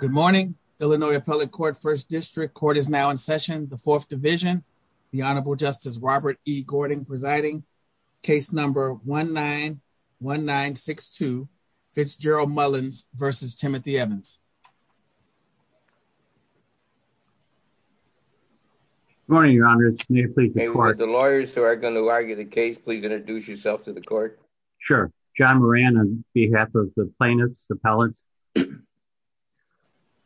Good morning, Illinois Appellate Court, First District. Court is now in session. The Fourth Division, the Honorable Justice Robert E. Gordon presiding. Case number 1-9-1-9-6-2, Fitzgerald Mullins v. Timothy Evans. Good morning, Your Honors. May it please the Court. The lawyers who are going to argue the case, please introduce yourself to the Court. Sure. John Moran on behalf of the plaintiffs, appellants.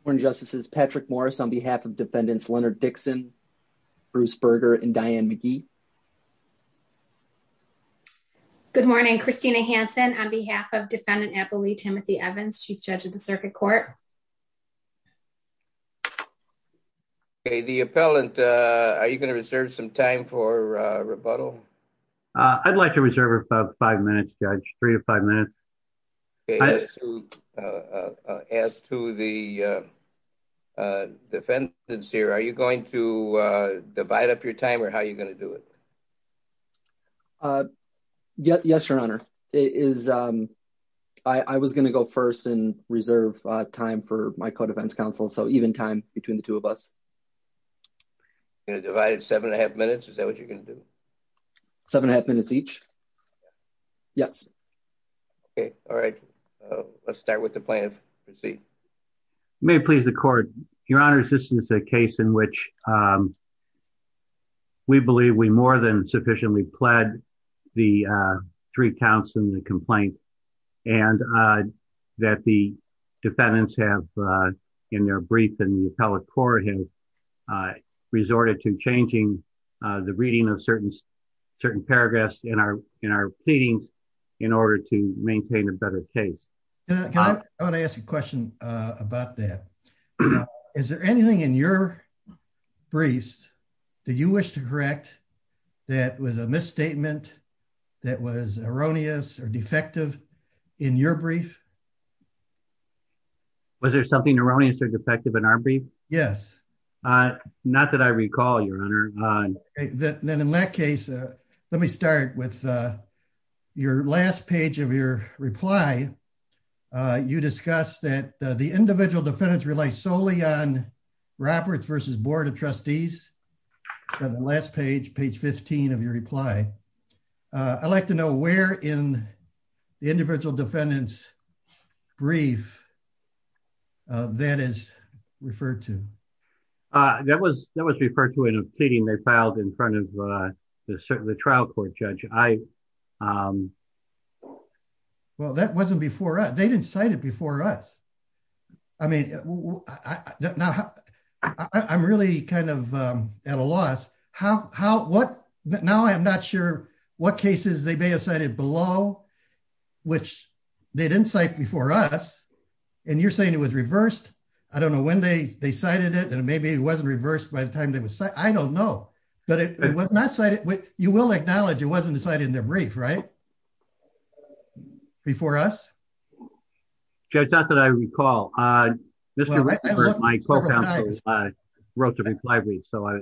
Morning, Justices. Patrick Morris on behalf of Defendants Leonard Dixon, Bruce Berger, and Diane McGee. Good morning. Christina Hansen on behalf of Defendant Appellee Timothy Evans, Chief Judge of the Circuit Court. Okay, the appellant, are you going to reserve some time for rebuttal? I'd like to reserve about five minutes, Judge, three to five minutes. Okay, as to the defendants here, are you going to divide up your time or how are you going to do it? Yes, Your Honor. I was going to go first and reserve time for my co-defense counsel, so even time between the two of us. You're going to divide it seven and a half minutes? Is that what you're going to do? Seven and a half minutes each. Yes. Okay, all right. Let's start with the plaintiff. May it please the Court. Your Honor, this is a case in which we believe we more than sufficiently pled the three counts in the complaint and that the defendants have, in their brief in the appellate court, have resorted to changing the reading of in our pleadings in order to maintain a better case. I want to ask a question about that. Is there anything in your briefs that you wish to correct that was a misstatement that was erroneous or defective in your brief? Was there something erroneous or defective in our brief? Then in that case, let me start with your last page of your reply. You discussed that the individual defendants rely solely on Roberts versus Board of Trustees. On the last page, page 15 of your reply, I'd like to know where in the individual defendants' brief that is referred to. That was referred to in a pleading they filed in front of the trial court judge. Well, that wasn't before us. They didn't cite it before us. I mean, I'm really kind of at a loss. Now I'm not sure what cases they may have cited below which they didn't cite before us and you're saying it was reversed. I don't know when they cited it and maybe it wasn't reversed by the time they were cited. I don't know, but it was not cited. You will acknowledge it wasn't decided in their brief, right? Before us? Judge, not that I recall. Mr. Reckford, my co-counsel, wrote the reply brief. I,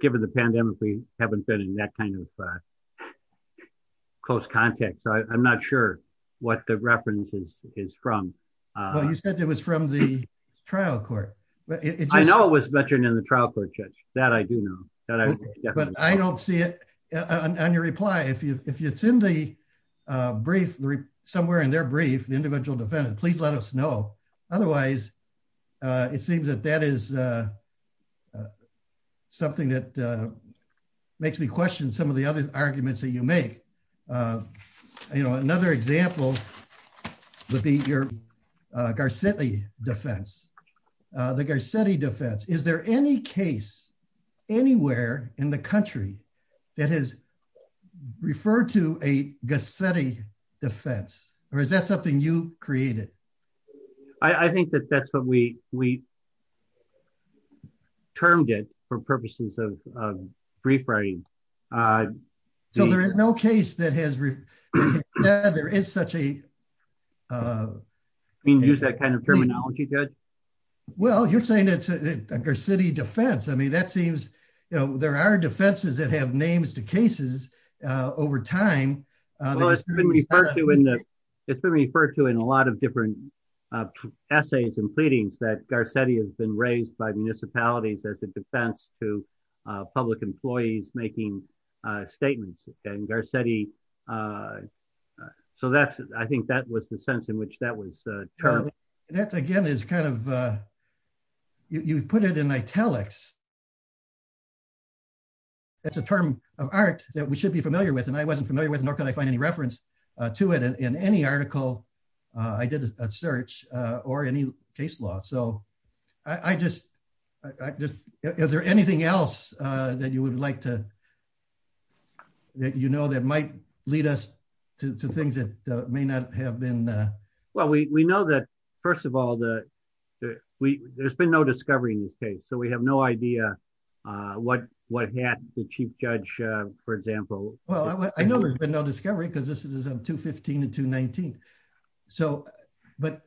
given the pandemic, we haven't been in that kind of close context. I'm not sure what the reference is from. Well, you said it was from the trial court. I know it was mentioned in the trial court judge. That I do know. But I don't see it on your reply. If it's in the brief, somewhere in their brief, the individual defendant, please let us know. Otherwise, it seems that that is something that makes me question some of the other arguments that you make. You know, another example would be your Garcetti defense. The Garcetti defense. Is there any case anywhere in the country that has referred to a Garcetti defense? Or is that something you created? I think that that's what we termed it for purposes of brief writing. So there is no case that has referred to that? There is such a... You mean use that kind of terminology, Judge? Well, you're saying it's a Garcetti defense. I mean, that seems, you know, there are defenses that have names to cases over time. Well, it's been referred to in a lot of different essays and pleadings that Garcetti has been raised by municipalities as a defense to public employees making statements. And Garcetti, so that's, I think that was the sense in which that was termed. That again is kind of, you put it in italics. It's a term of art that we should be familiar with. And I wasn't familiar with, nor could I find any reference to it in any article. I did a search or any case law. So I just, I just, is there anything else that you would like to, that you know that might lead us to things that may not have been? Well, we know that, first of all, there's been no discovery in this case. So we have no idea. What, what had the chief judge, for example. Well, I know there's been no discovery because this is a 215 and 219. So, but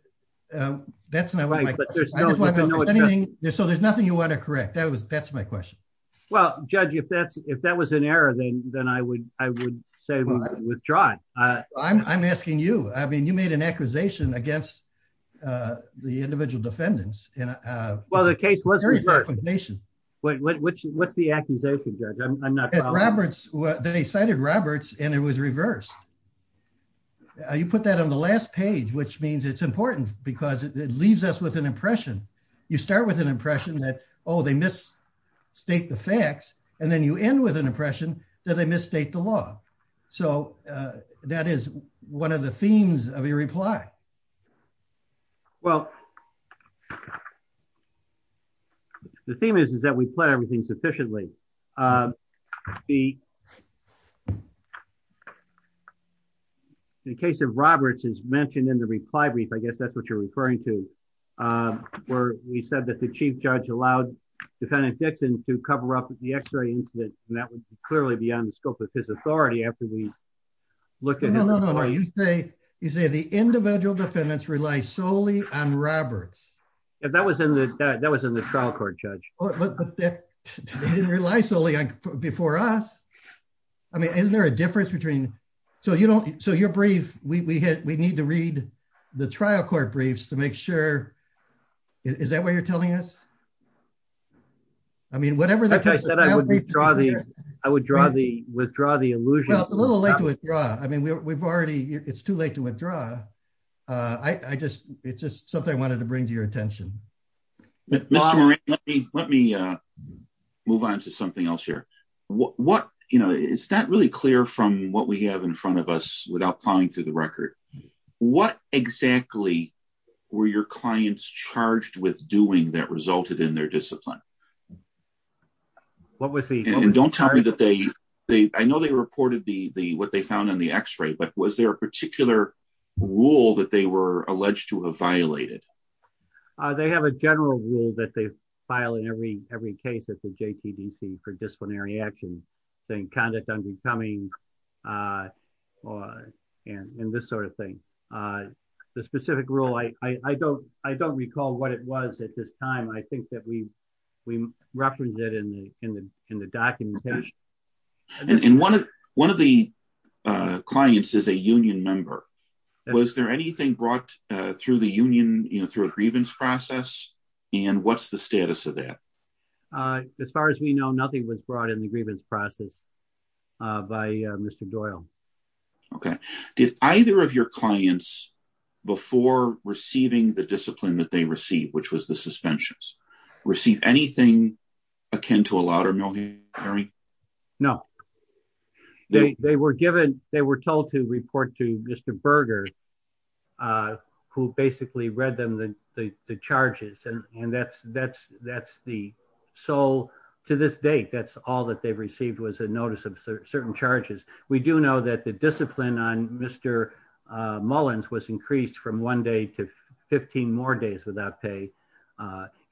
that's not right. So there's nothing you want to correct. That was, that's my question. Well, judge, if that's, if that was an error, then I would, I would say withdraw. I'm asking you, I mean, you made an accusation against the individual defendants. Well, the case was reversed. What's the accusation, judge? I'm not sure. Roberts, they cited Roberts and it was reversed. You put that on the last page, which means it's important because it leaves us with an impression. You start with an impression that, oh, they misstate the facts. And then you end with an impression that they misstate the law. So that is one of the themes of your reply. Well, the theme is, is that we plan everything sufficiently. The the case of Roberts is mentioned in the reply brief. I guess that's what you're referring to, where we said that the chief judge allowed defendant Dixon to cover up the x-ray incident. And that would clearly be on the scope of his authority after we look at it. No, no, no. You say, you say the individual defendants rely solely on Roberts. And that was in the, that was in the trial court, judge. They didn't rely solely on, before us. I mean, isn't there a difference between, so you don't, so your brief, we, we had, we need to read the trial court briefs to make sure, is that what you're telling us? I mean, whatever. I said I would withdraw the, I would withdraw the, withdraw the allusion. A little late to withdraw. I mean, we've already, it's too late to withdraw. I just, it's just something I wanted to bring to your attention. Mr. Moran, let me, let me move on to something else here. What, you know, it's not really clear from what we have in front of us without plowing through the record. What exactly were your clients charged with doing that resulted in their discipline? What was the, don't tell me that they, they, I know they reported the, the, what they found on the x-ray, but was there a particular rule that they were alleged to have violated? They have a general rule that they file in every, every case at the JTDC for disciplinary action, saying conduct undercoming and this sort of thing. The specific rule, I, I, I don't, I don't recall what it was at this time. I think that we, we referenced it in the, in the, in the documentation. And one of the clients is a union member. Was there anything brought through the union, you know, through a grievance process and what's the status of that? As far as we know, nothing was brought in the grievance process by Mr. Doyle. Okay. Did either of your clients before receiving the discipline that they received, which was the suspensions, receive anything akin to a louder military? No, they, they were given, they were told to report to Mr. Berger, who basically read them the, the, the charges. And, and that's, that's, that's the, so to this date, that's all that they've received was a notice of certain charges. We do know that the discipline on Mr. Mullins was increased from one day to 15 more days without pay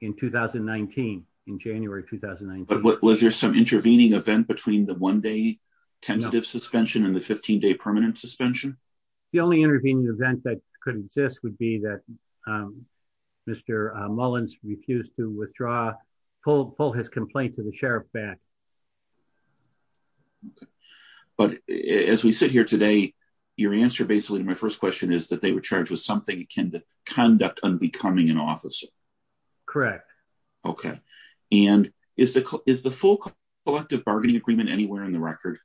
in 2019, in January, 2019. But was there some intervening event between the one day tentative suspension and the 15 day permanent suspension? The only intervening event that could exist would be that Mr. Mullins refused to withdraw, pull, pull his complaint to the Fairfax. But as we sit here today, your answer basically to my first question is that they were charged with something akin to conduct unbecoming an officer. Correct. Okay. And is the, is the full collective bargaining agreement anywhere in the record?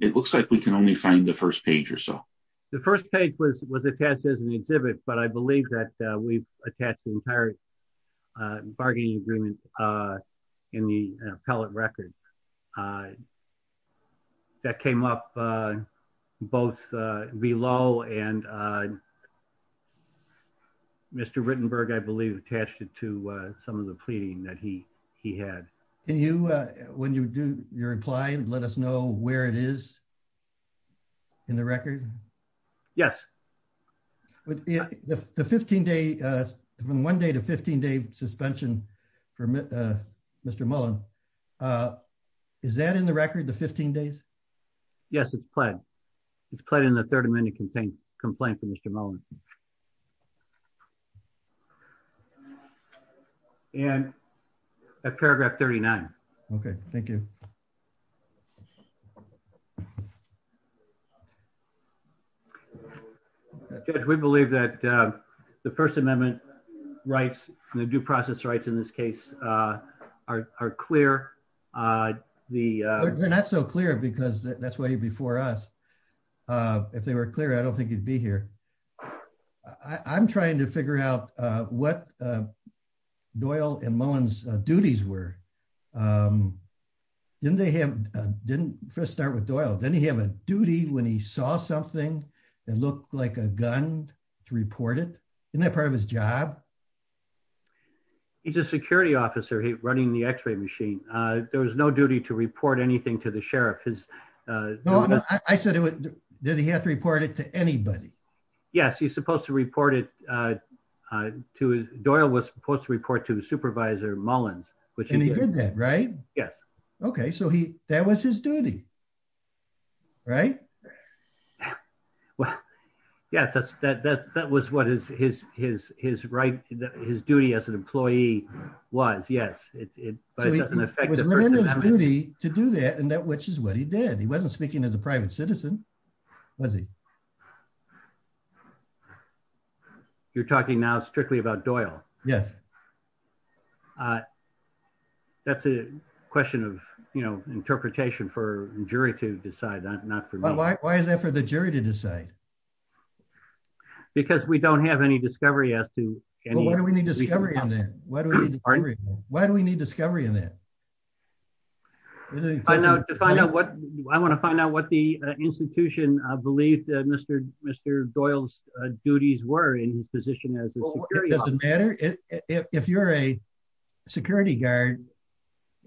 It looks like we can only find the first page or so. The first page was, was attached as an exhibit, but I believe that we've attached the entire bargaining agreement in the appellate record. That came up both below and Mr. Rittenberg, I believe, attached it to some of the pleading that he, he had. Can you, when you do your reply and let us know where it is in the record? Yes. The 15 day from one day to 15 day suspension for Mr. Mullin, is that in the record, the 15 days? Yes, it's pledged. It's pledged in the third amendment complaint from Mr. Mullin. And at paragraph 39. Okay. Thank you. We believe that the first amendment rights and the due process rights in this case are, are clear. The, they're not so clear because that's why you're before us. If they were clear, I don't think you'd be here. I'm trying to figure out what Doyle and Mullin's duties were. Didn't they have, didn't first start with Doyle, didn't he have a duty when he saw something that looked like a gun to report it? Isn't that part of his job? He's a security officer. He running the x-ray machine. There was no duty to report anything to the sheriff. His I said it, did he have to report it to anybody? Yes. He's supposed to report it to Doyle was supposed to report to the supervisor Mullins, which he did that, right? Yes. Okay. So he, that was his duty, right? Yeah. Well, yeah, that's that, that, that was what his, his, his, his right, his duty as an employee was. Yes. It doesn't affect him to do that. And that, which is what he did. He wasn't speaking as a private citizen. Was he? You're talking now strictly about Doyle. Yes. That's a question of, you know, interpretation for jury to decide that. Not for me. Why is that for the jury to decide? Because we don't have any discovery as to why do we need discovery in that? I want to find out what the institution, I believe that Mr. Doyle's duties were in his position as a security. It doesn't matter. If you're a security guard,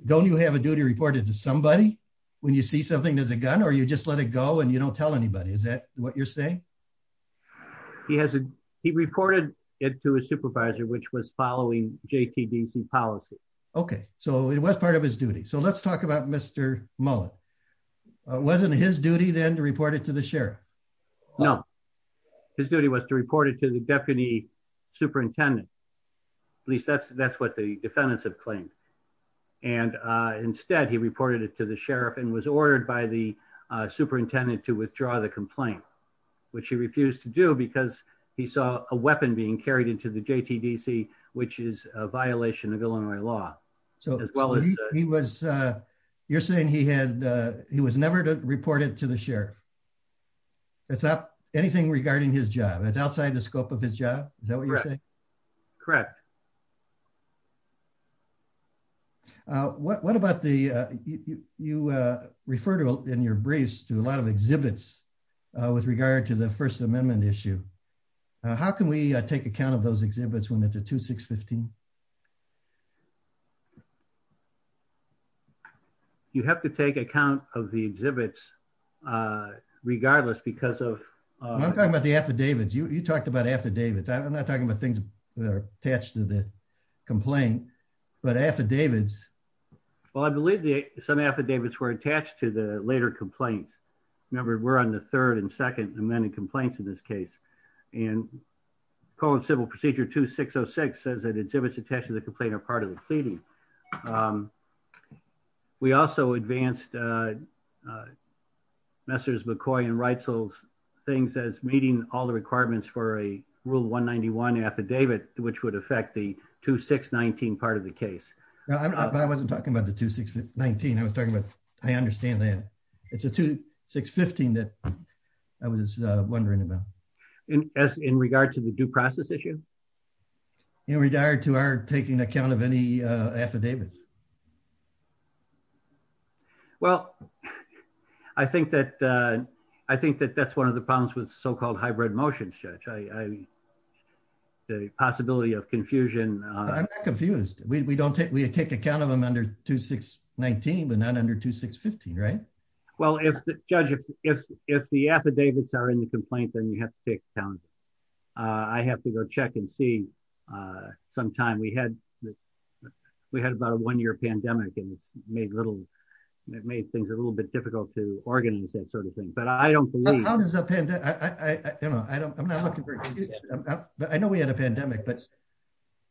don't you have a duty reported to somebody when you see something, there's a gun, or you just let it go and you don't tell anybody. Is that what you're saying? He hasn't, he reported it to his supervisor, which was following JTDC policy. Okay. So it was part of his duty. So let's talk about Mr. Mullin. It wasn't his duty then to report it to the sheriff. No, his duty was to report it to the deputy superintendent. At least that's, that's what the defendants have claimed. And instead he reported it to the sheriff and was ordered by the superintendent to withdraw the complaint, which he refused to do because he saw a weapon being carried into the JTDC, which is a violation of Illinois law. So he was, you're saying he had, he was never reported to the sheriff. It's not anything regarding his job. It's outside the scope of his job. Is that what you're saying? Correct. What about the, you refer to in your briefs to a lot of exhibits with regard to the first amendment issue. How can we take account of those exhibits when it's a 2-6-15? You have to take account of the exhibits regardless because of... I'm talking about the affidavits. You talked about affidavits. I'm not talking about things that are attached to the complaint, but affidavits. Well, I believe some affidavits were attached to the later complaints. Remember we're on the third and second amended complaints in this case. And code civil procedure 2-6-0-6 says that exhibits attached to the complaint are part of the pleading. We also advanced Messrs. McCoy and Reitzel's things as meeting all the requirements for a rule 191 affidavit, which would affect the 2-6-19 part of the case. I wasn't talking about the 2-6-19. I was talking about, I understand that it's a 2-6-15 that I was wondering about. In regard to the due process issue? In regard to our taking account of any affidavits. Well, I think that that's one of the problems with so-called hybrid motions, Judge. The possibility of confusion... I'm not confused. We take account of them under 2-6-19, but not under 2-6-15, right? Well, Judge, if the affidavits are in the complaint, then you have to take account. I have to go check and see sometime. We had about a one-year pandemic and it's made things a little bit difficult to organize that sort of thing, but I don't believe... How does a pandemic... I'm not looking for... I know we had a pandemic, but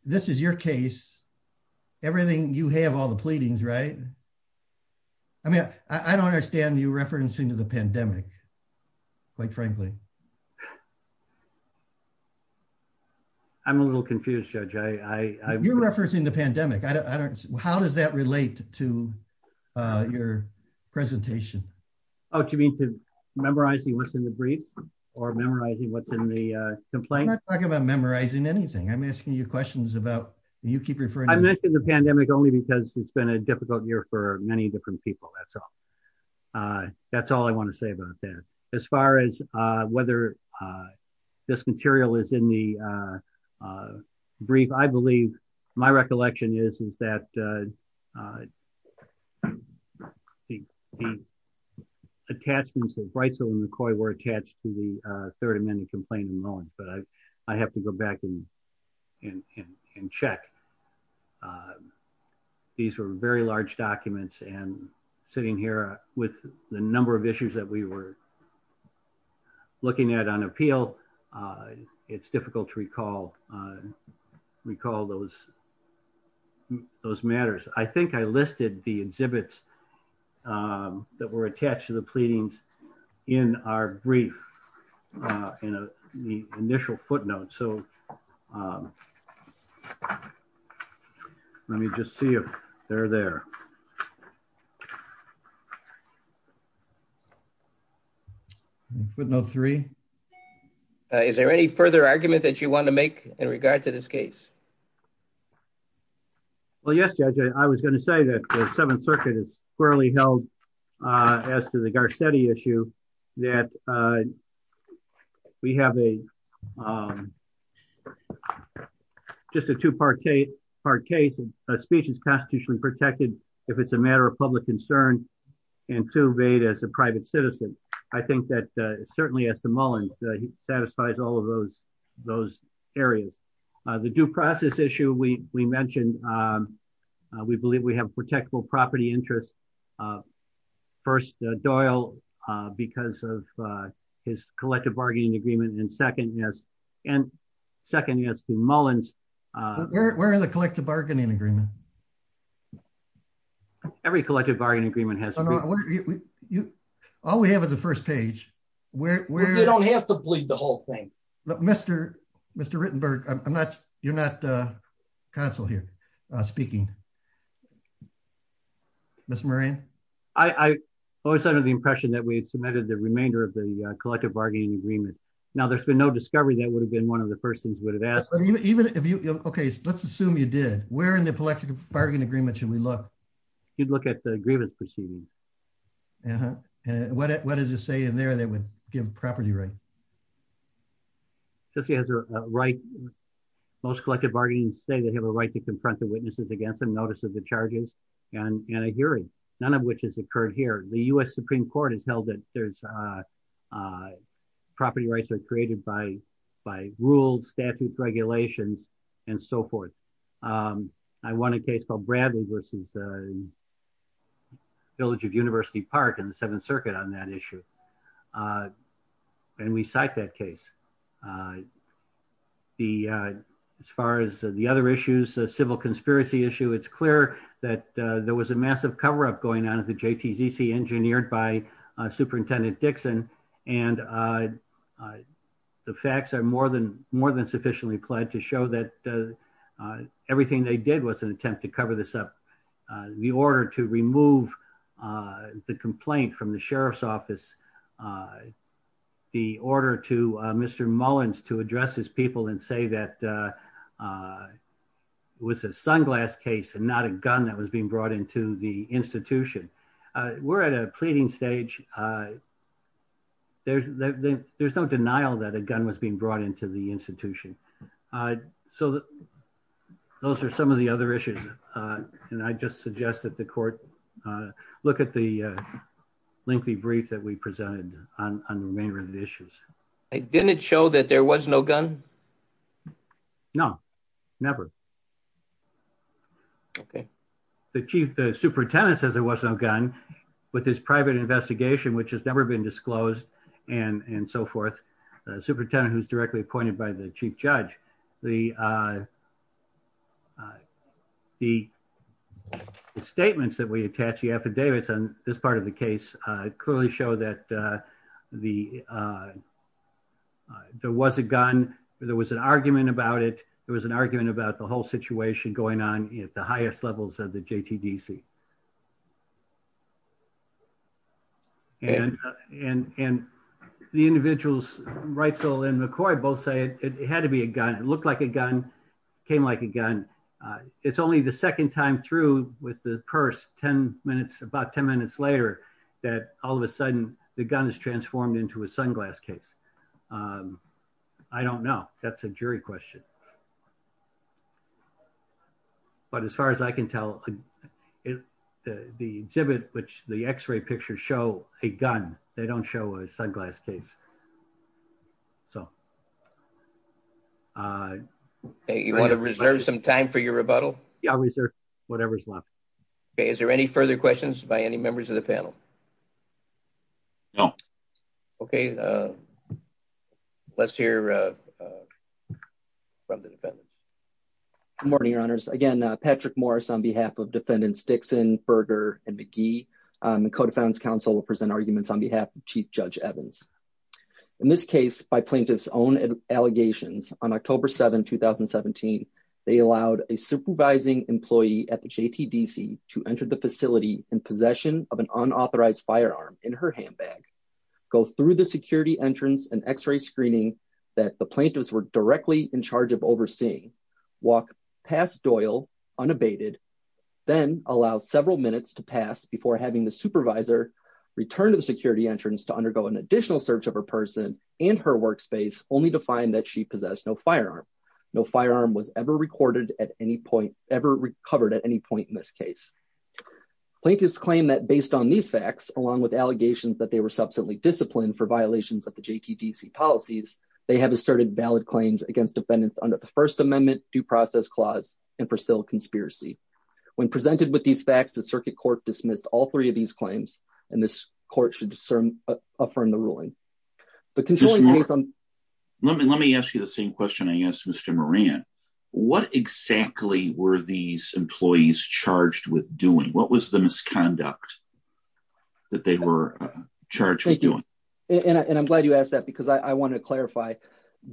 this is your case. Everything you have, all the pleadings, right? I mean, I don't understand you referencing to the pandemic, quite frankly. I'm a little confused, Judge. You're referencing the pandemic. How does that relate to your presentation? Oh, do you mean to memorizing what's in the briefs or memorizing what's in the complaint? I'm not talking about memorizing anything. I'm asking you questions about... You keep referring to... I mentioned the pandemic only because it's been a difficult year for many different people. That's all. That's all I want to say about that. As far as whether this material is in the brief, I believe my recollection is that the attachments of Breissel and McCoy were attached to the Third Amendment complaint in Mullen, but I have to go back and check. These were very large documents, and sitting here with the number of issues that we were looking at on appeal, it's difficult to recall those matters. I think I listed the exhibits that were attached to the pleadings in our brief, in the initial footnote. So let me just see if they're there. Footnote three. Is there any further argument that you want to make in regard to this case? Well, yes, Judge. I was going to say that the Seventh Circuit is thoroughly held as to the Garcetti issue, that we have just a two-part case. A speech is constitutionally protected if it's a matter of public concern, and two, made as a private citizen. I think that certainly as to Mullen, he satisfies all of those areas. The due process issue we mentioned, we believe we have protectable property interests. First, Doyle, because of his collective bargaining agreement, and second, yes, to Mullen's... Where are the collective bargaining agreement? Every collective bargaining agreement has... All we have is the first page. You don't have to bleed the whole thing. Mr. Rittenberg, I'm not... You're not the council here speaking. Mr. Moran? I was under the impression that we had submitted the remainder of the collective bargaining agreement. Now, there's been no discovery that would have been one of the first things we would have asked. Even if you... Okay, let's assume you did. Where in the collective bargaining agreement should we look? You'd look at the grievance proceedings. Uh-huh. And what does it say in there that would give property right? Just as a right, most collective bargaining say they have a right to confront the witnesses against them, notice of the charges, and a hearing, none of which has occurred here. The US Supreme Court has held that there's... Property rights are created by rules, statutes, regulations, and so forth. I won a case called Bradley versus Village of University Park in the Seventh Circuit on that issue, uh, and we cite that case. The... As far as the other issues, the civil conspiracy issue, it's clear that there was a massive cover-up going on at the JTZC engineered by Superintendent Dixon, and the facts are more than sufficiently applied to show that everything they did was an attempt to cover this up. The order to remove the complaint from the Sheriff's Office, the order to Mr. Mullins to address his people and say that it was a sunglass case and not a gun that was being brought into the institution. We're at a pleading stage. There's no denial that a gun was being brought into the institution. Uh, so those are some of the other issues, uh, and I just suggest that the court, uh, look at the, uh, lengthy brief that we presented on the remainder of the issues. Didn't it show that there was no gun? No, never. Okay. The Chief... The Superintendent says there was no gun, with his private investigation, which has never been disclosed, and, and so forth. The Superintendent, who's directly appointed by the Chief Judge, the, uh, the statements that we attach the affidavits on this part of the case, uh, clearly show that, uh, the, uh, there was a gun, there was an argument about it, there was an argument about the whole situation going on at the highest levels of the JTDC. And, and, and the individuals, Reitzel and McCoy, both say it had to be a gun. It looked like a gun, came like a gun. Uh, it's only the second time through with the purse, 10 minutes, about 10 minutes later, that all of a sudden the gun is transformed into a sunglass case. Um, I don't know. That's a jury question. But as far as I can tell, it, the exhibit, which the x-ray pictures show a gun, they don't show a sunglass case. So, uh... Hey, you want to reserve some time for your rebuttal? Yeah, I'll reserve whatever's left. Okay. Is there any further questions by any members of the panel? No. Okay, uh, let's hear, uh, uh, from the defendant. Good morning, Your Honors. Again, Patrick Morris on behalf of Defendants Dixon, Berger, and McGee. Um, the Code of Founds Council will present arguments on behalf of Chief Judge Evans. In this case, by plaintiff's own allegations, on October 7, 2017, they allowed a supervising employee at the JTDC to enter the facility in possession of an unauthorized firearm in her handbag, go through the security entrance and x-ray screening that the plaintiffs were directly in charge of overseeing, walk past Doyle unabated, then allow several minutes to pass before having the supervisor return to the security entrance to undergo an additional search of her person and her workspace, only to find that she possessed no firearm. No firearm was ever recorded at any point, ever recovered at any point in this case. Plaintiffs claim that based on these facts, along with allegations that they were they have asserted valid claims against defendants under the First Amendment Due Process Clause and Purcell Conspiracy. When presented with these facts, the circuit court dismissed all three of these claims and this court should affirm the ruling. Let me ask you the same question I asked Mr. Moran. What exactly were these employees charged with doing? What was the misconduct that they were charged with doing? And I'm glad you asked that because I want to clarify,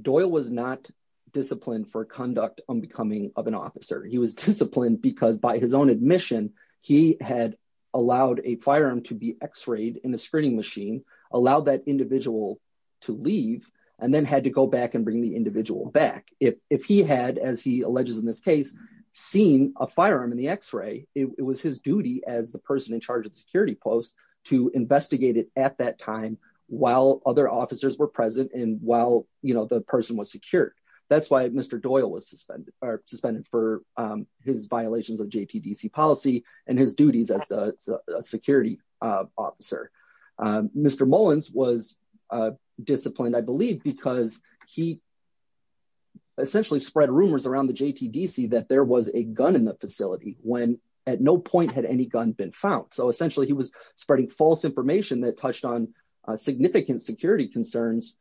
Doyle was not disciplined for conduct on becoming of an officer. He was disciplined because by his own admission, he had allowed a firearm to be x-rayed in a screening machine, allowed that individual to leave, and then had to go back and bring the individual back. If he had, as he alleges in this case, seen a firearm in the x-ray, it was his duty as the person in charge of the security post to investigate it at that time while other officers were present and while the person was secured. That's why Mr. Doyle was suspended for his violations of JTDC policy and his duties as a security officer. Mr. Mullins was disciplined, I believe, because he essentially spread rumors around the JTDC that there was a gun in the facility when at no point had any gun been found. So essentially, he was significant security concerns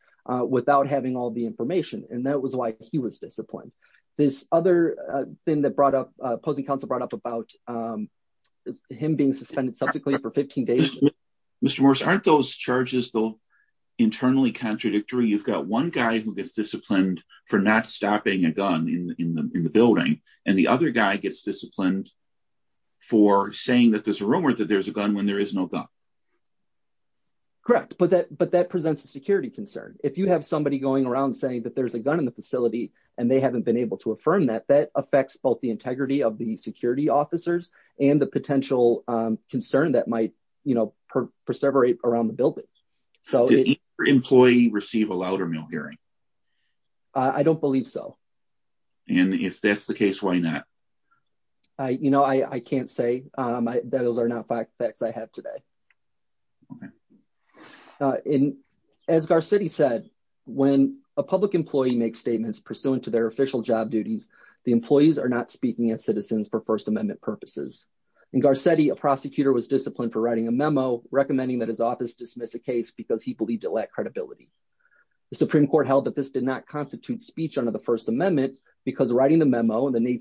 without having all the information, and that was why he was disciplined. This other thing that opposing counsel brought up about him being suspended substantially for 15 days. Mr. Morris, aren't those charges though internally contradictory? You've got one guy who gets disciplined for not stopping a gun in the building, and the other guy gets disciplined for saying that there's a rumor that there's a gun when there is no gun. Correct, but that presents a security concern. If you have somebody going around saying that there's a gun in the facility and they haven't been able to affirm that, that affects both the integrity of the security officers and the potential concern that might perseverate around the building. Did your employee receive a louder mill hearing? I don't believe so. And if that's the case, why not? I can't say that those are not facts I have today. As Garcetti said, when a public employee makes statements pursuant to their official job duties, the employees are not speaking as citizens for First Amendment purposes. In Garcetti, a prosecutor was disciplined for writing a memo recommending that his office dismiss a case because he believed it lacked credibility. The Supreme Court held that this did not constitute speech under the First Amendment because writing the memo and the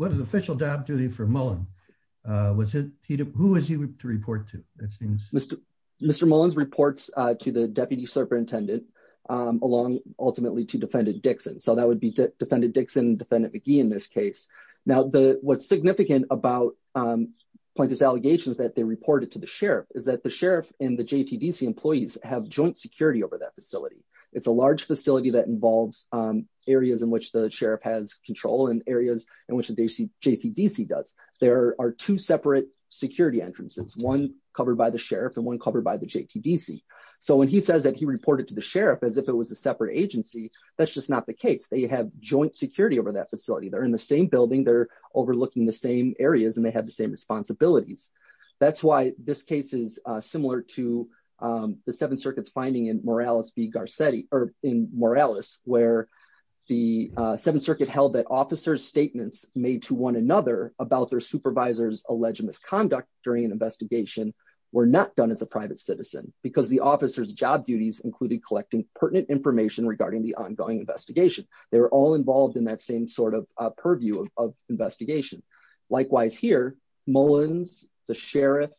official job duty for Mullen, who is he to report to? Mr. Mullins reports to the deputy superintendent along ultimately to Defendant Dixon. So that would be Defendant Dixon, Defendant McGee in this case. Now, what's significant about plaintiff's allegations that they reported to the sheriff is that the sheriff and the JTDC employees have joint security over that facility. It's a large facility that involves areas in which the sheriff has control and areas in which the JTDC does. There are two separate security entrances, one covered by the sheriff and one covered by the JTDC. So when he says that he reported to the sheriff as if it was a separate agency, that's just not the case. They have joint security over that facility. They're in the same building, they're overlooking the same areas and they have the same responsibilities. That's why this case is similar to the Seventh Circuit's finding in Morales v. Garcetti, made to one another about their supervisor's alleged misconduct during an investigation were not done as a private citizen because the officer's job duties included collecting pertinent information regarding the ongoing investigation. They were all involved in that same sort of purview of investigation. Likewise here, Mullins, the sheriff,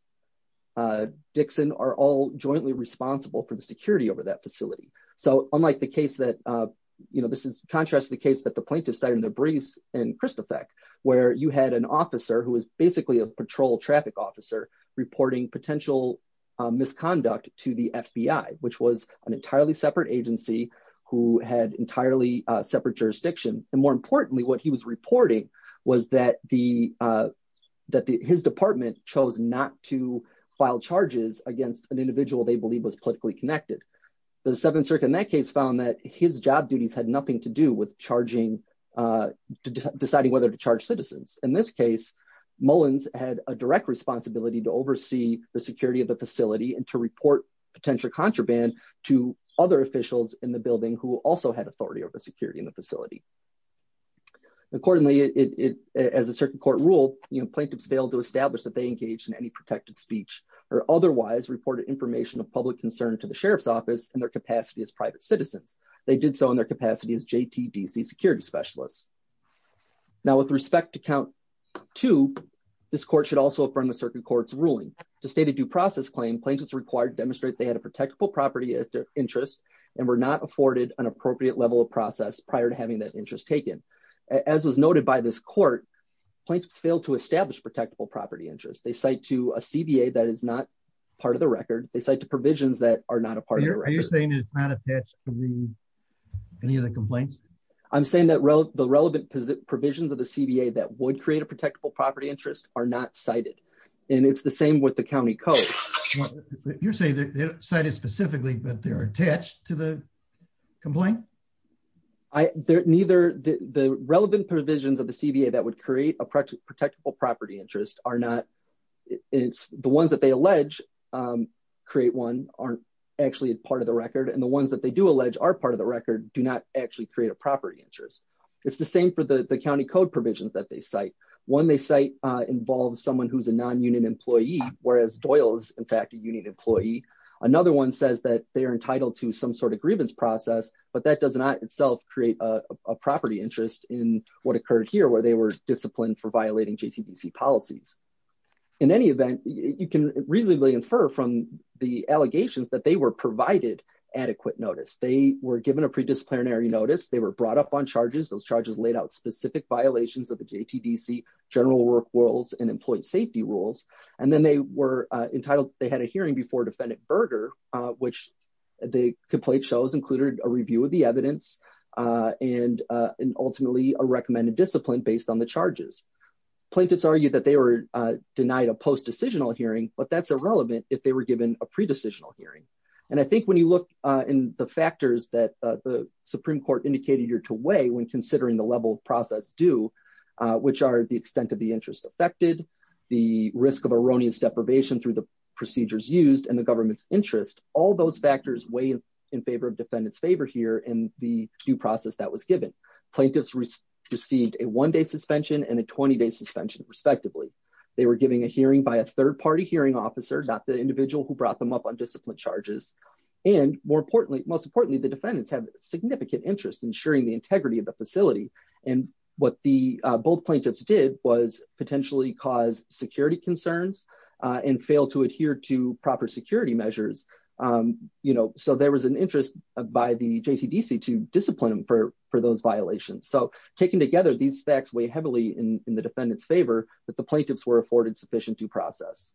Dixon are all jointly responsible for the security over that facility. So unlike the case that, you know, this is in Kristofek, where you had an officer who was basically a patrol traffic officer reporting potential misconduct to the FBI, which was an entirely separate agency who had entirely separate jurisdiction. And more importantly, what he was reporting was that his department chose not to file charges against an individual they believe was politically connected. The Seventh Circuit in his job duties had nothing to do with deciding whether to charge citizens. In this case, Mullins had a direct responsibility to oversee the security of the facility and to report potential contraband to other officials in the building who also had authority over security in the facility. Accordingly, as a circuit court rule, plaintiffs failed to establish that they engaged in any protected speech or otherwise reported information of private citizens. They did so in their capacity as JTDC security specialists. Now with respect to count two, this court should also affirm the circuit court's ruling to state a due process claim. Plaintiffs required to demonstrate they had a protectable property interest and were not afforded an appropriate level of process prior to having that interest taken. As was noted by this court, plaintiffs failed to establish protectable property interest. They cite to a CBA that is not part of the record. They cite to provisions that are not part of the record. Are you saying it's not attached to any of the complaints? I'm saying that the relevant provisions of the CBA that would create a protectable property interest are not cited and it's the same with the county code. You're saying that they're cited specifically but they're attached to the complaint? The relevant provisions of the CBA that would create a record and the ones that they do allege are part of the record do not actually create a property interest. It's the same for the county code provisions that they cite. One they cite involves someone who's a non-union employee whereas Doyle is in fact a union employee. Another one says that they are entitled to some sort of grievance process but that does not itself create a property interest in what occurred here where they were disciplined for violating JTDC policies. In any adequate notice they were given a predisciplinary notice. They were brought up on charges. Those charges laid out specific violations of the JTDC general work rules and employee safety rules and then they were entitled. They had a hearing before defendant Berger which the complaint shows included a review of the evidence and ultimately a recommended discipline based on the charges. Plaintiffs argued that they were denied a post-decisional hearing but that's irrelevant if they were given a pre-decisional hearing. I think when you look in the factors that the Supreme Court indicated you're to weigh when considering the level of process due which are the extent of the interest affected, the risk of erroneous deprivation through the procedures used and the government's interest. All those factors weigh in favor of defendants favor here in the due process that was given. Plaintiffs received a one-day suspension and a 20-day suspension respectively. They were given a hearing by a third party hearing officer not the individual who brought them up on discipline charges and most importantly the defendants have significant interest in sharing the integrity of the facility and what the both plaintiffs did was potentially cause security concerns and fail to adhere to proper security measures. So there was an interest by the JTDC to discipline them for those violations. So taking together these facts weigh heavily in the defendant's favor that the plaintiffs were afforded sufficient due process.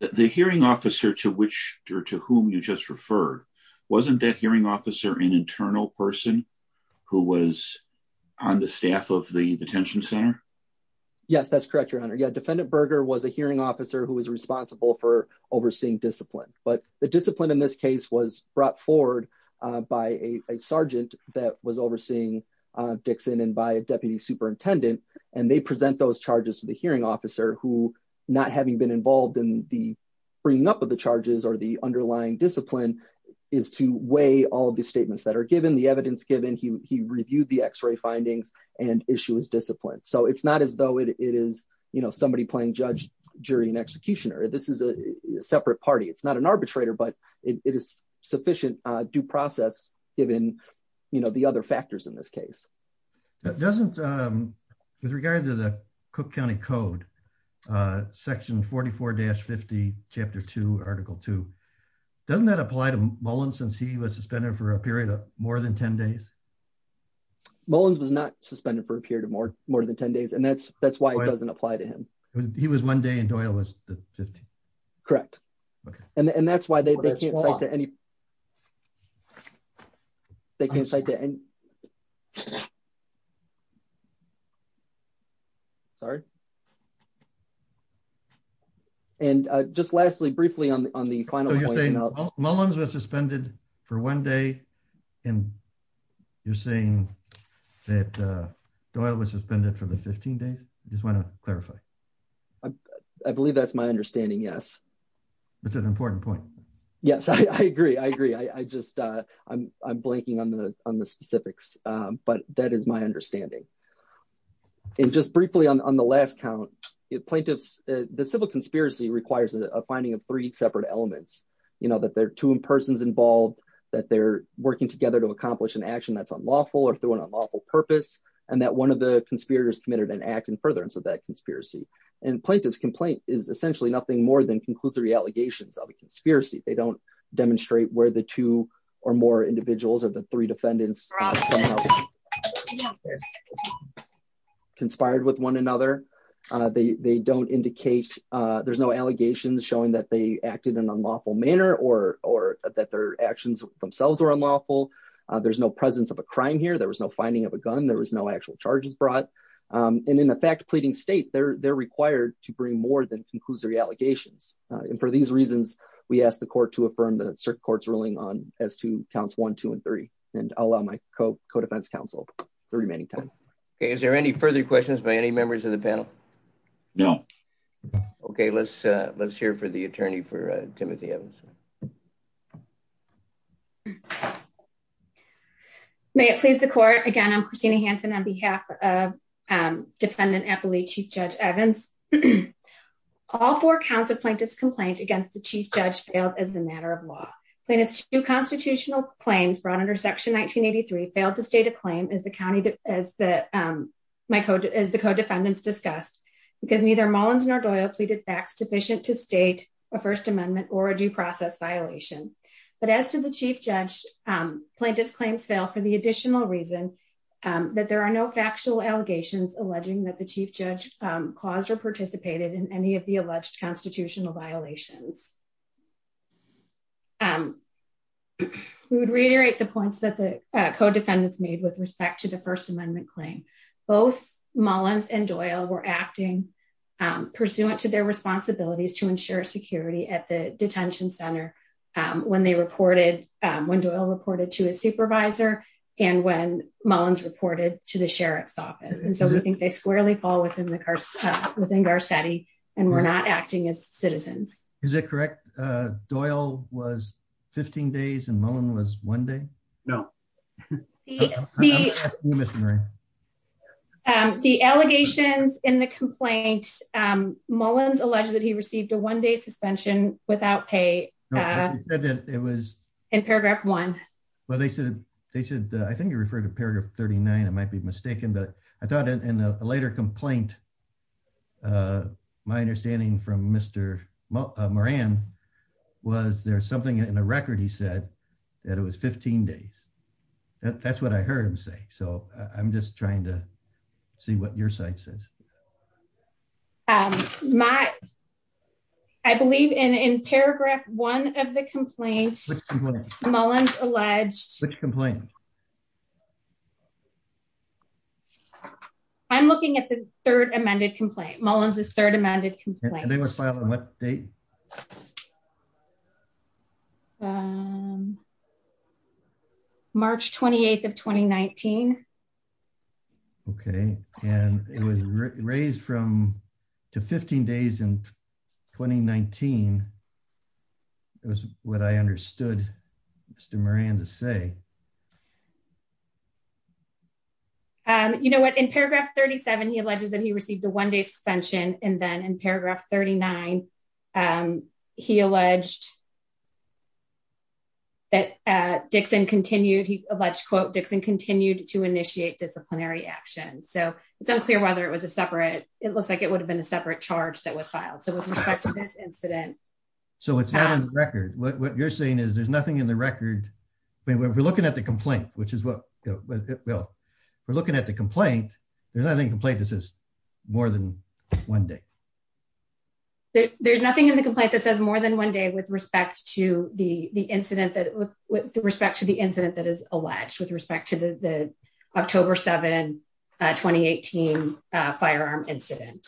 The hearing officer to which or to whom you just referred wasn't that hearing officer an internal person who was on the staff of the detention center? Yes that's correct your honor. Yeah defendant Berger was a hearing officer who was responsible for overseeing discipline but the discipline in this case was brought forward by a sergeant that was overseeing Dixon and by a deputy superintendent and they present those charges to the hearing officer who not having been involved in the bringing up of the charges or the underlying discipline is to weigh all of the statements that are given the evidence given he reviewed the x-ray findings and issue his discipline. So it's not as though it is you know somebody playing judge jury and executioner this is a separate party it's not an arbitrator but it is sufficient due process given you know the other factors in this case. That doesn't um with regard to the cook county code uh section 44-50 chapter 2 article 2 doesn't that apply to Mullins since he was suspended for a period of more than 10 days? Mullins was not suspended for a period of more more than 10 days and that's that's why it doesn't apply to him. He was one day and Doyle was the 15th? Correct okay and and that's why they can't cite to any they can't cite to any sorry. And uh just lastly briefly on on the final point. Mullins was suspended for one day and you're saying that uh Doyle was suspended for the 15 days? I just want to clarify. I believe that's my understanding yes. That's an important point. Yes I agree I agree I just uh I'm I'm blanking on the on the specifics um but that is my understanding. And just briefly on the last count it plaintiffs the civil conspiracy requires a finding of three separate elements. You know that there are two persons involved that they're working together to accomplish an action that's unlawful or through an unlawful purpose and that one of the conspirators committed an act in conspiracy. And plaintiff's complaint is essentially nothing more than conclusory allegations of a conspiracy. They don't demonstrate where the two or more individuals or the three defendants conspired with one another. They they don't indicate uh there's no allegations showing that they acted in an unlawful manner or or that their actions themselves were unlawful. There's no presence of a crime here. There was no finding of a gun. There was no actual charges brought. And in the fact pleading state they're they're required to bring more than conclusory allegations. And for these reasons we ask the court to affirm the circuit court's ruling on as to counts one two and three. And I'll allow my co-co-defense counsel the remaining time. Okay is there any further questions by any members of the panel? No. Okay let's uh let's hear for the attorney for uh Timothy Evans. May it please the court. Again I'm Christina Hanson on behalf of um defendant Eppley Chief Judge Evans. All four counts of plaintiff's complaint against the chief judge failed as a matter of law. Plaintiff's two constitutional claims brought under section 1983 failed to state a claim as the county as the um my code as the co-defendants discussed because neither Mullins nor Doyle pleaded facts sufficient to state a first amendment or a due process violation. But as to the chief judge plaintiff's claims fail for the additional reason that there are no factual allegations alleging that the chief judge caused or participated in any of the alleged constitutional violations. We would reiterate the points that the co-defendants made with respect to the first amendment claim. Both Mullins and Doyle were acting um pursuant to their responsibilities to ensure security at the detention center um when they reported um when Doyle reported to his supervisor and when Mullins reported to the sheriff's office. And so we think they squarely fall within the within Garcetti and were not acting as citizens. Is it correct uh Doyle was 15 days and Mullin was one day? No. Um the allegations in the complaint um Mullins alleged that he received a one-day suspension without pay. He said that it was in paragraph one. Well they said they said I think you referred to paragraph 39 I might be mistaken but I thought in a later complaint uh my understanding from Mr. Moran was there's something in a record he said that it was 15 days. That's what I heard him say so I'm just trying to see what your side says. Um my I believe in in paragraph one of the complaints Mullins alleged. Which complaint? I'm looking at the third amended complaint Mullins's third amended complaint. On what date? Um March 28th of 2019. Okay and it was raised from to 15 days in 2019. It was what I understood Mr. Moran to say. Um you know what in paragraph 37 he alleges that he received a one-day suspension and then in 39 um he alleged that uh Dixon continued he alleged quote Dixon continued to initiate disciplinary action. So it's unclear whether it was a separate it looks like it would have been a separate charge that was filed. So with respect to this incident. So it's not on the record what what you're saying is there's nothing in the record I mean we're looking at the complaint which is what well we're looking at the complaint there's nothing complaint this is more than one day. There's nothing in the complaint that says more than one day with respect to the the incident that with with respect to the incident that is alleged with respect to the the October 7 2018 firearm incident.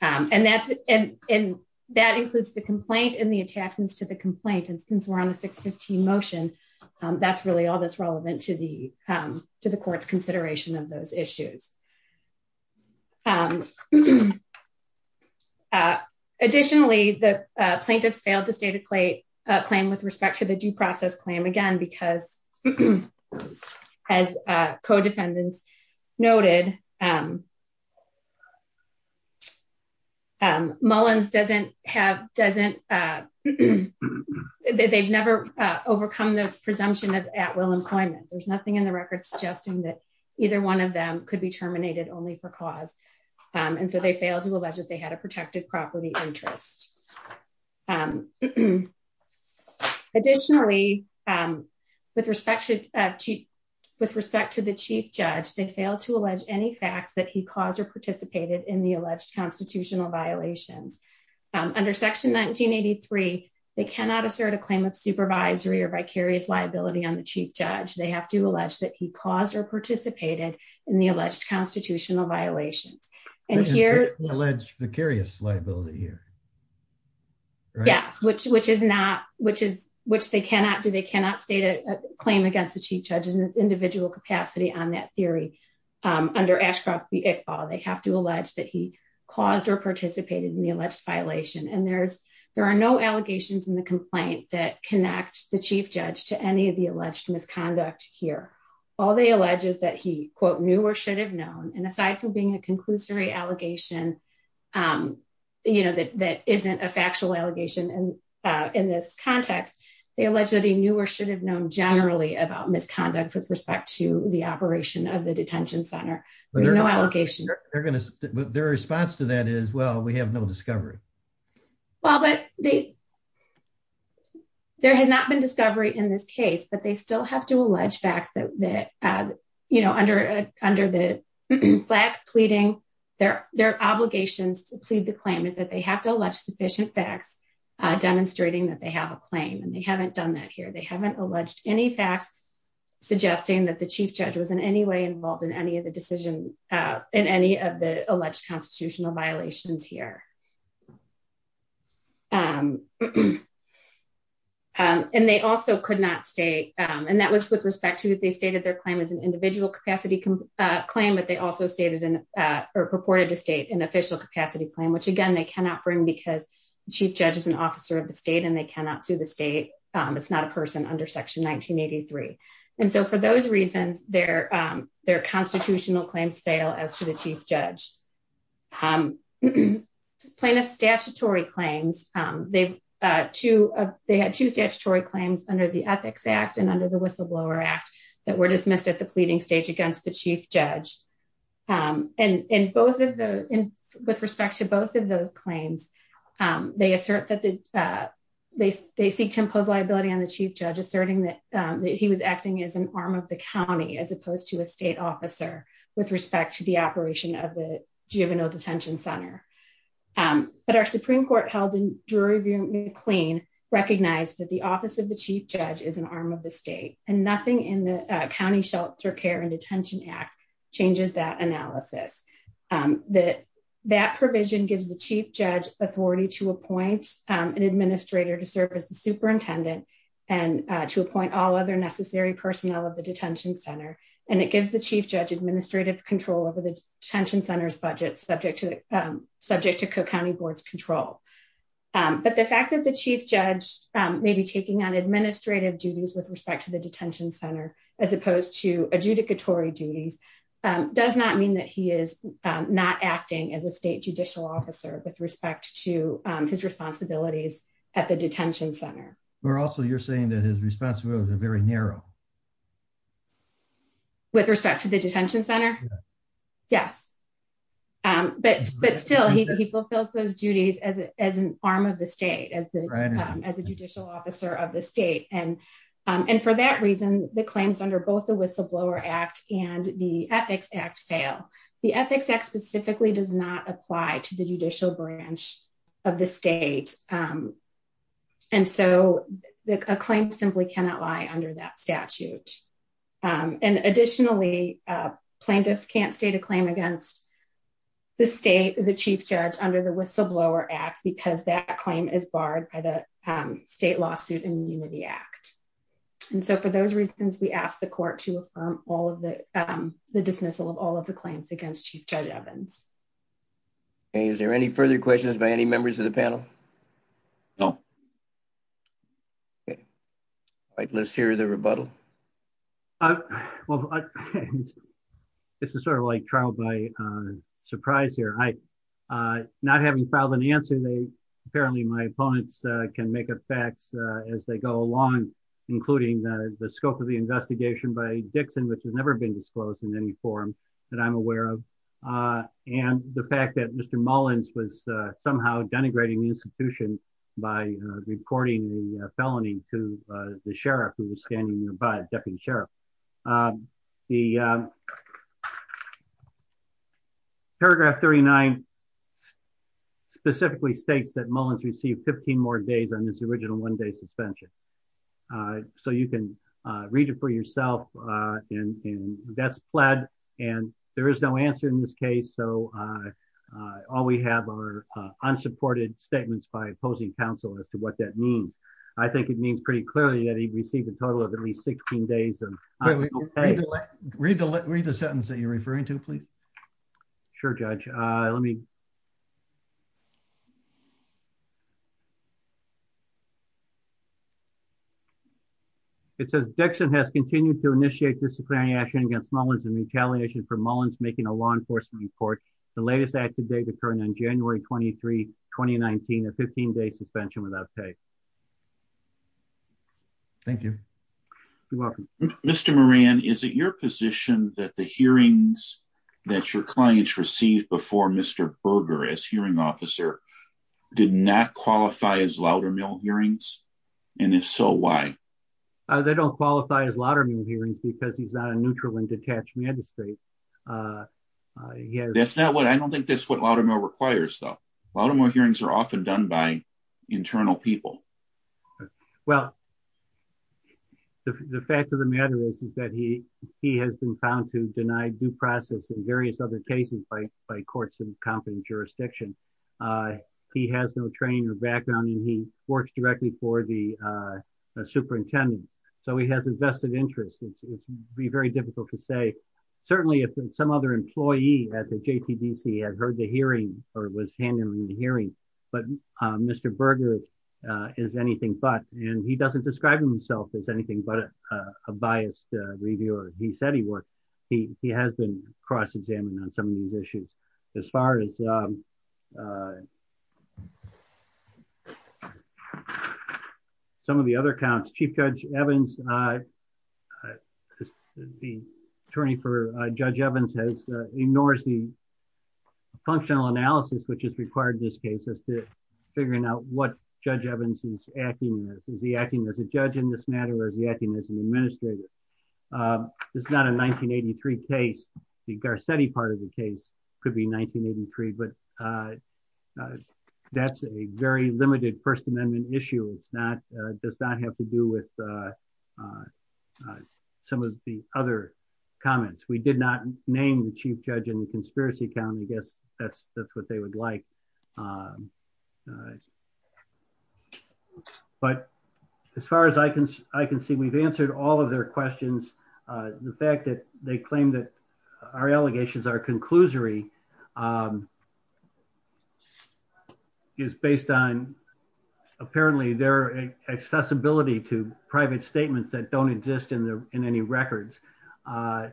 Um and that's and and that includes the complaint and the attachments to the complaint and since we're on the 615 motion um that's really all that's relevant to the um court's consideration of those issues. Um uh additionally the uh plaintiff's failed to state a claim with respect to the due process claim again because as uh co-defendants noted um um Mullins doesn't have doesn't uh they've never uh overcome the presumption of at will employment. There's nothing in the record suggesting that either one of them could be terminated only for cause um and so they failed to allege that they had a protected property interest. Additionally um with respect to uh with respect to the chief judge they failed to allege any facts that he caused or participated in the alleged constitutional violations. Under section 1983 they cannot assert a claim of supervisory or vicarious liability on the chief judge. They have to allege that he caused or participated in the alleged constitutional violations and here alleged vicarious liability here. Yes which which is not which is which they cannot do they cannot state a claim against the chief judge in its individual capacity on that theory. Um under Ashcroft v Iqbal they have to allege that he caused or participated in the alleged violation and there's there are no allegations in the complaint that connect the alleged misconduct here. All they allege is that he quote knew or should have known and aside from being a conclusory allegation um you know that that isn't a factual allegation and uh in this context they allege that he knew or should have known generally about misconduct with respect to the operation of the detention center. There's no allegation. They're gonna their response to that is well we have no discovery. Well but they there has not been discovery in this case but they still have to allege facts that that uh you know under under the flag pleading their their obligations to plead the claim is that they have to allege sufficient facts uh demonstrating that they have a claim and they haven't done that here. They haven't alleged any facts suggesting that the chief judge was in any way involved in any of the decision uh in any of the alleged constitutional violations here um and they also could not state um and that was with respect to that they stated their claim as an individual capacity uh claim but they also stated in uh or purported to state an official capacity claim which again they cannot bring because the chief judge is an officer of the state and they cannot sue the state um it's not a person under section 1983 and so for those reasons their um their constitutional claims fail as to the chief judge um plaintiff statutory claims um they've uh two of they had two statutory claims under the ethics act and under the whistleblower act that were dismissed at the pleading stage against the chief judge um and in both of the in with respect to both of those claims um they assert that the uh they they seek to impose liability on the chief judge asserting that um that he was acting as an arm of the county as opposed to a state officer with respect to the operation of the juvenile detention center um but our supreme court held in jury review McLean recognized that the office of the chief judge is an arm of the state and nothing in the county shelter care and detention act changes that analysis um that that provision gives the chief judge authority to appoint um an administrator to serve as the superintendent and uh to appoint all other necessary personnel of the detention center and it gives the chief judge administrative control over the detention center's budget subject to the um subject to cook county board's control um but the fact that the chief judge um may be taking on administrative duties with respect to the detention center as opposed to adjudicatory duties um does not mean that he is not acting as a state judicial officer with respect to his responsibilities at the detention center or also you're saying that his responsibilities are very narrow with respect to the detention center yes um but but still he fulfills those duties as as an arm of the state as the as a judicial officer of the state and um and for that reason the claims under both the whistleblower act and the ethics act fail the ethics act specifically does not apply to the judicial branch of the state um and so a claim simply cannot lie under that statute um and additionally uh plaintiffs can't state a claim against the state the chief judge under the whistleblower act because that claim is barred by the um state lawsuit immunity act and so for those reasons we ask the court to affirm all of the um the dismissal of all of the okay is there any further questions by any members of the panel no okay all right let's hear the rebuttal uh well this is sort of like trial by uh surprise here i uh not having filed an answer they apparently my opponents uh can make effects uh as they go along including the the scope of the investigation by dixon which has never been disclosed in any forum that i'm aware of uh and the fact that mr mullins was uh somehow denigrating the institution by uh recording the felony to uh the sheriff who was standing nearby deputy sheriff um the um paragraph 39 specifically states that mullins received 15 more days on this original one day suspension uh so you can uh read it for yourself uh and and that's pled and there is no answer in this case so uh uh all we have are unsupported statements by opposing counsel as to what that means i think it means pretty clearly that he received a total of at least 16 days and read the read the sentence that you're referring to please sure judge uh let me it says dixon has continued to initiate disciplinary action against mullins in retaliation for mullins making a law enforcement report the latest act today occurring on january 23 2019 a 15-day suspension without pay thank you you're welcome mr moran is it your position that the hearings that your clients received before mr berger as hearing officer did not qualify as louder mill hearings and if so why uh they don't qualify as lot of new hearings because he's not a neutral and detached magistrate uh yeah that's not what i don't think that's what a lot of more requires though a lot of more hearings are often done by internal people well the fact of the matter is is that he he has been found to deny due process in various other cases by by courts in competent jurisdiction uh he has no training or background and he works directly for the uh superintendent so he has invested interest it's it's very difficult to say certainly if some other employee at the jpbc had heard the hearing or was handling the hearing but uh mr berger is anything but and he doesn't describe himself as anything but a biased reviewer he said he worked he he has been cross-examined on some of these issues as far as um some of the other counts chief judge evans uh the attorney for uh judge evans has ignores the functional analysis which is required in this case as to figuring out what judge evans is acting as is he acting as a judge in this matter or is not a 1983 case the garcetti part of the case could be 1983 but uh that's a very limited first amendment issue it's not uh does not have to do with uh uh some of the other comments we did not name the chief judge in the conspiracy account i guess that's that's what they would like um all right but as far as i can i can see we've answered all of their questions uh the fact that they claim that our allegations are conclusory um is based on apparently their accessibility to private statements that don't exist in the in any records uh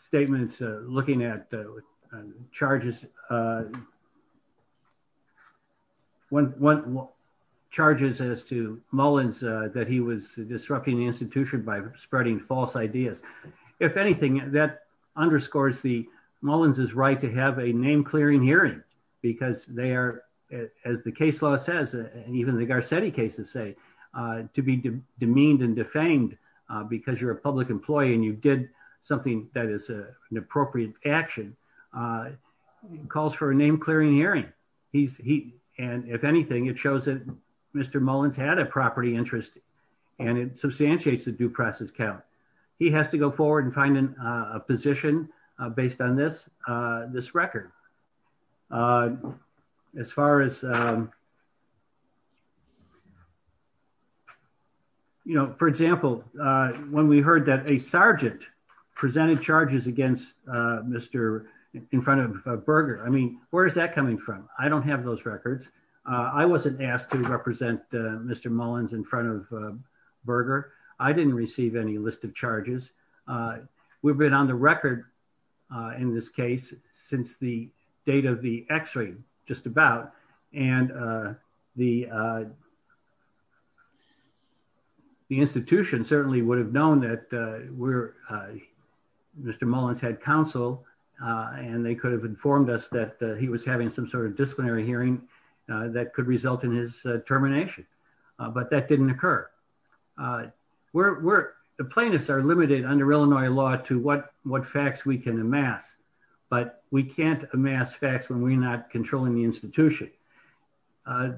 statements uh looking at uh charges uh one one charges as to mullins uh that he was disrupting the institution by spreading false ideas if anything that underscores the mullins is right to have a name clearing hearing because they are as the case law says even the garcetti cases say uh to be demeaned and defamed uh because you're a public employee and you did something that is a an appropriate action uh calls for a name clearing hearing he's he and if anything it shows that mr mullins had a property interest and it substantiates the due process count he has to go forward and find a position uh based on this uh this record uh as far as um you know for example uh when we heard that a sergeant presented charges against uh mr in front of burger i mean where is that coming from i don't have those records uh i wasn't asked to represent uh mr mullins in front of burger i didn't receive any list of charges uh we've been on the record uh in this case since the date of the x-ray just about and uh the uh the institution certainly would have known that uh we're uh mr mullins had counsel uh and they could have informed us that he was having some sort of disciplinary hearing that could result in his termination but that didn't occur uh we're the plaintiffs are limited under illinois law to what what facts we can amass but we can't amass facts when we're not controlling the institution uh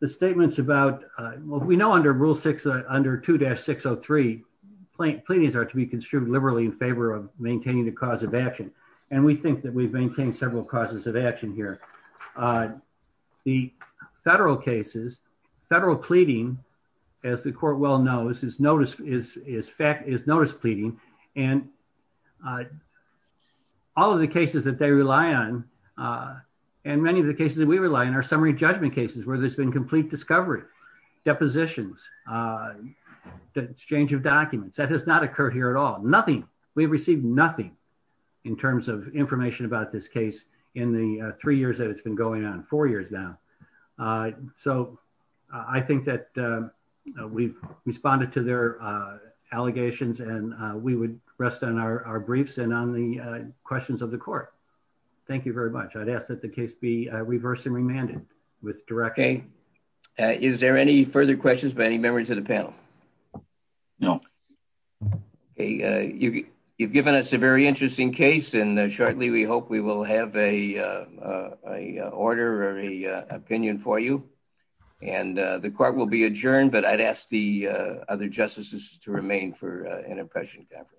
the statements about uh well we know under rule six under 2-603 pleadings are to be construed liberally in favor of maintaining the cause of action and we think we've maintained several causes of action here uh the federal cases federal pleading as the court well knows is notice is is fact is notice pleading and uh all of the cases that they rely on uh and many of the cases that we rely on are summary judgment cases where there's been complete discovery depositions uh the exchange of documents that has not occurred here at all we've received nothing in terms of information about this case in the three years that it's been going on four years now uh so i think that uh we've responded to their uh allegations and we would rest on our briefs and on the uh questions of the court thank you very much i'd ask that the case be reversed and remanded with directing is there any further questions by any members of the panel no okay uh you you've given us a very interesting case and shortly we hope we will have a uh a order or a opinion for you and uh the court will be adjourned but i'd ask the uh other justices to remain for an impression conference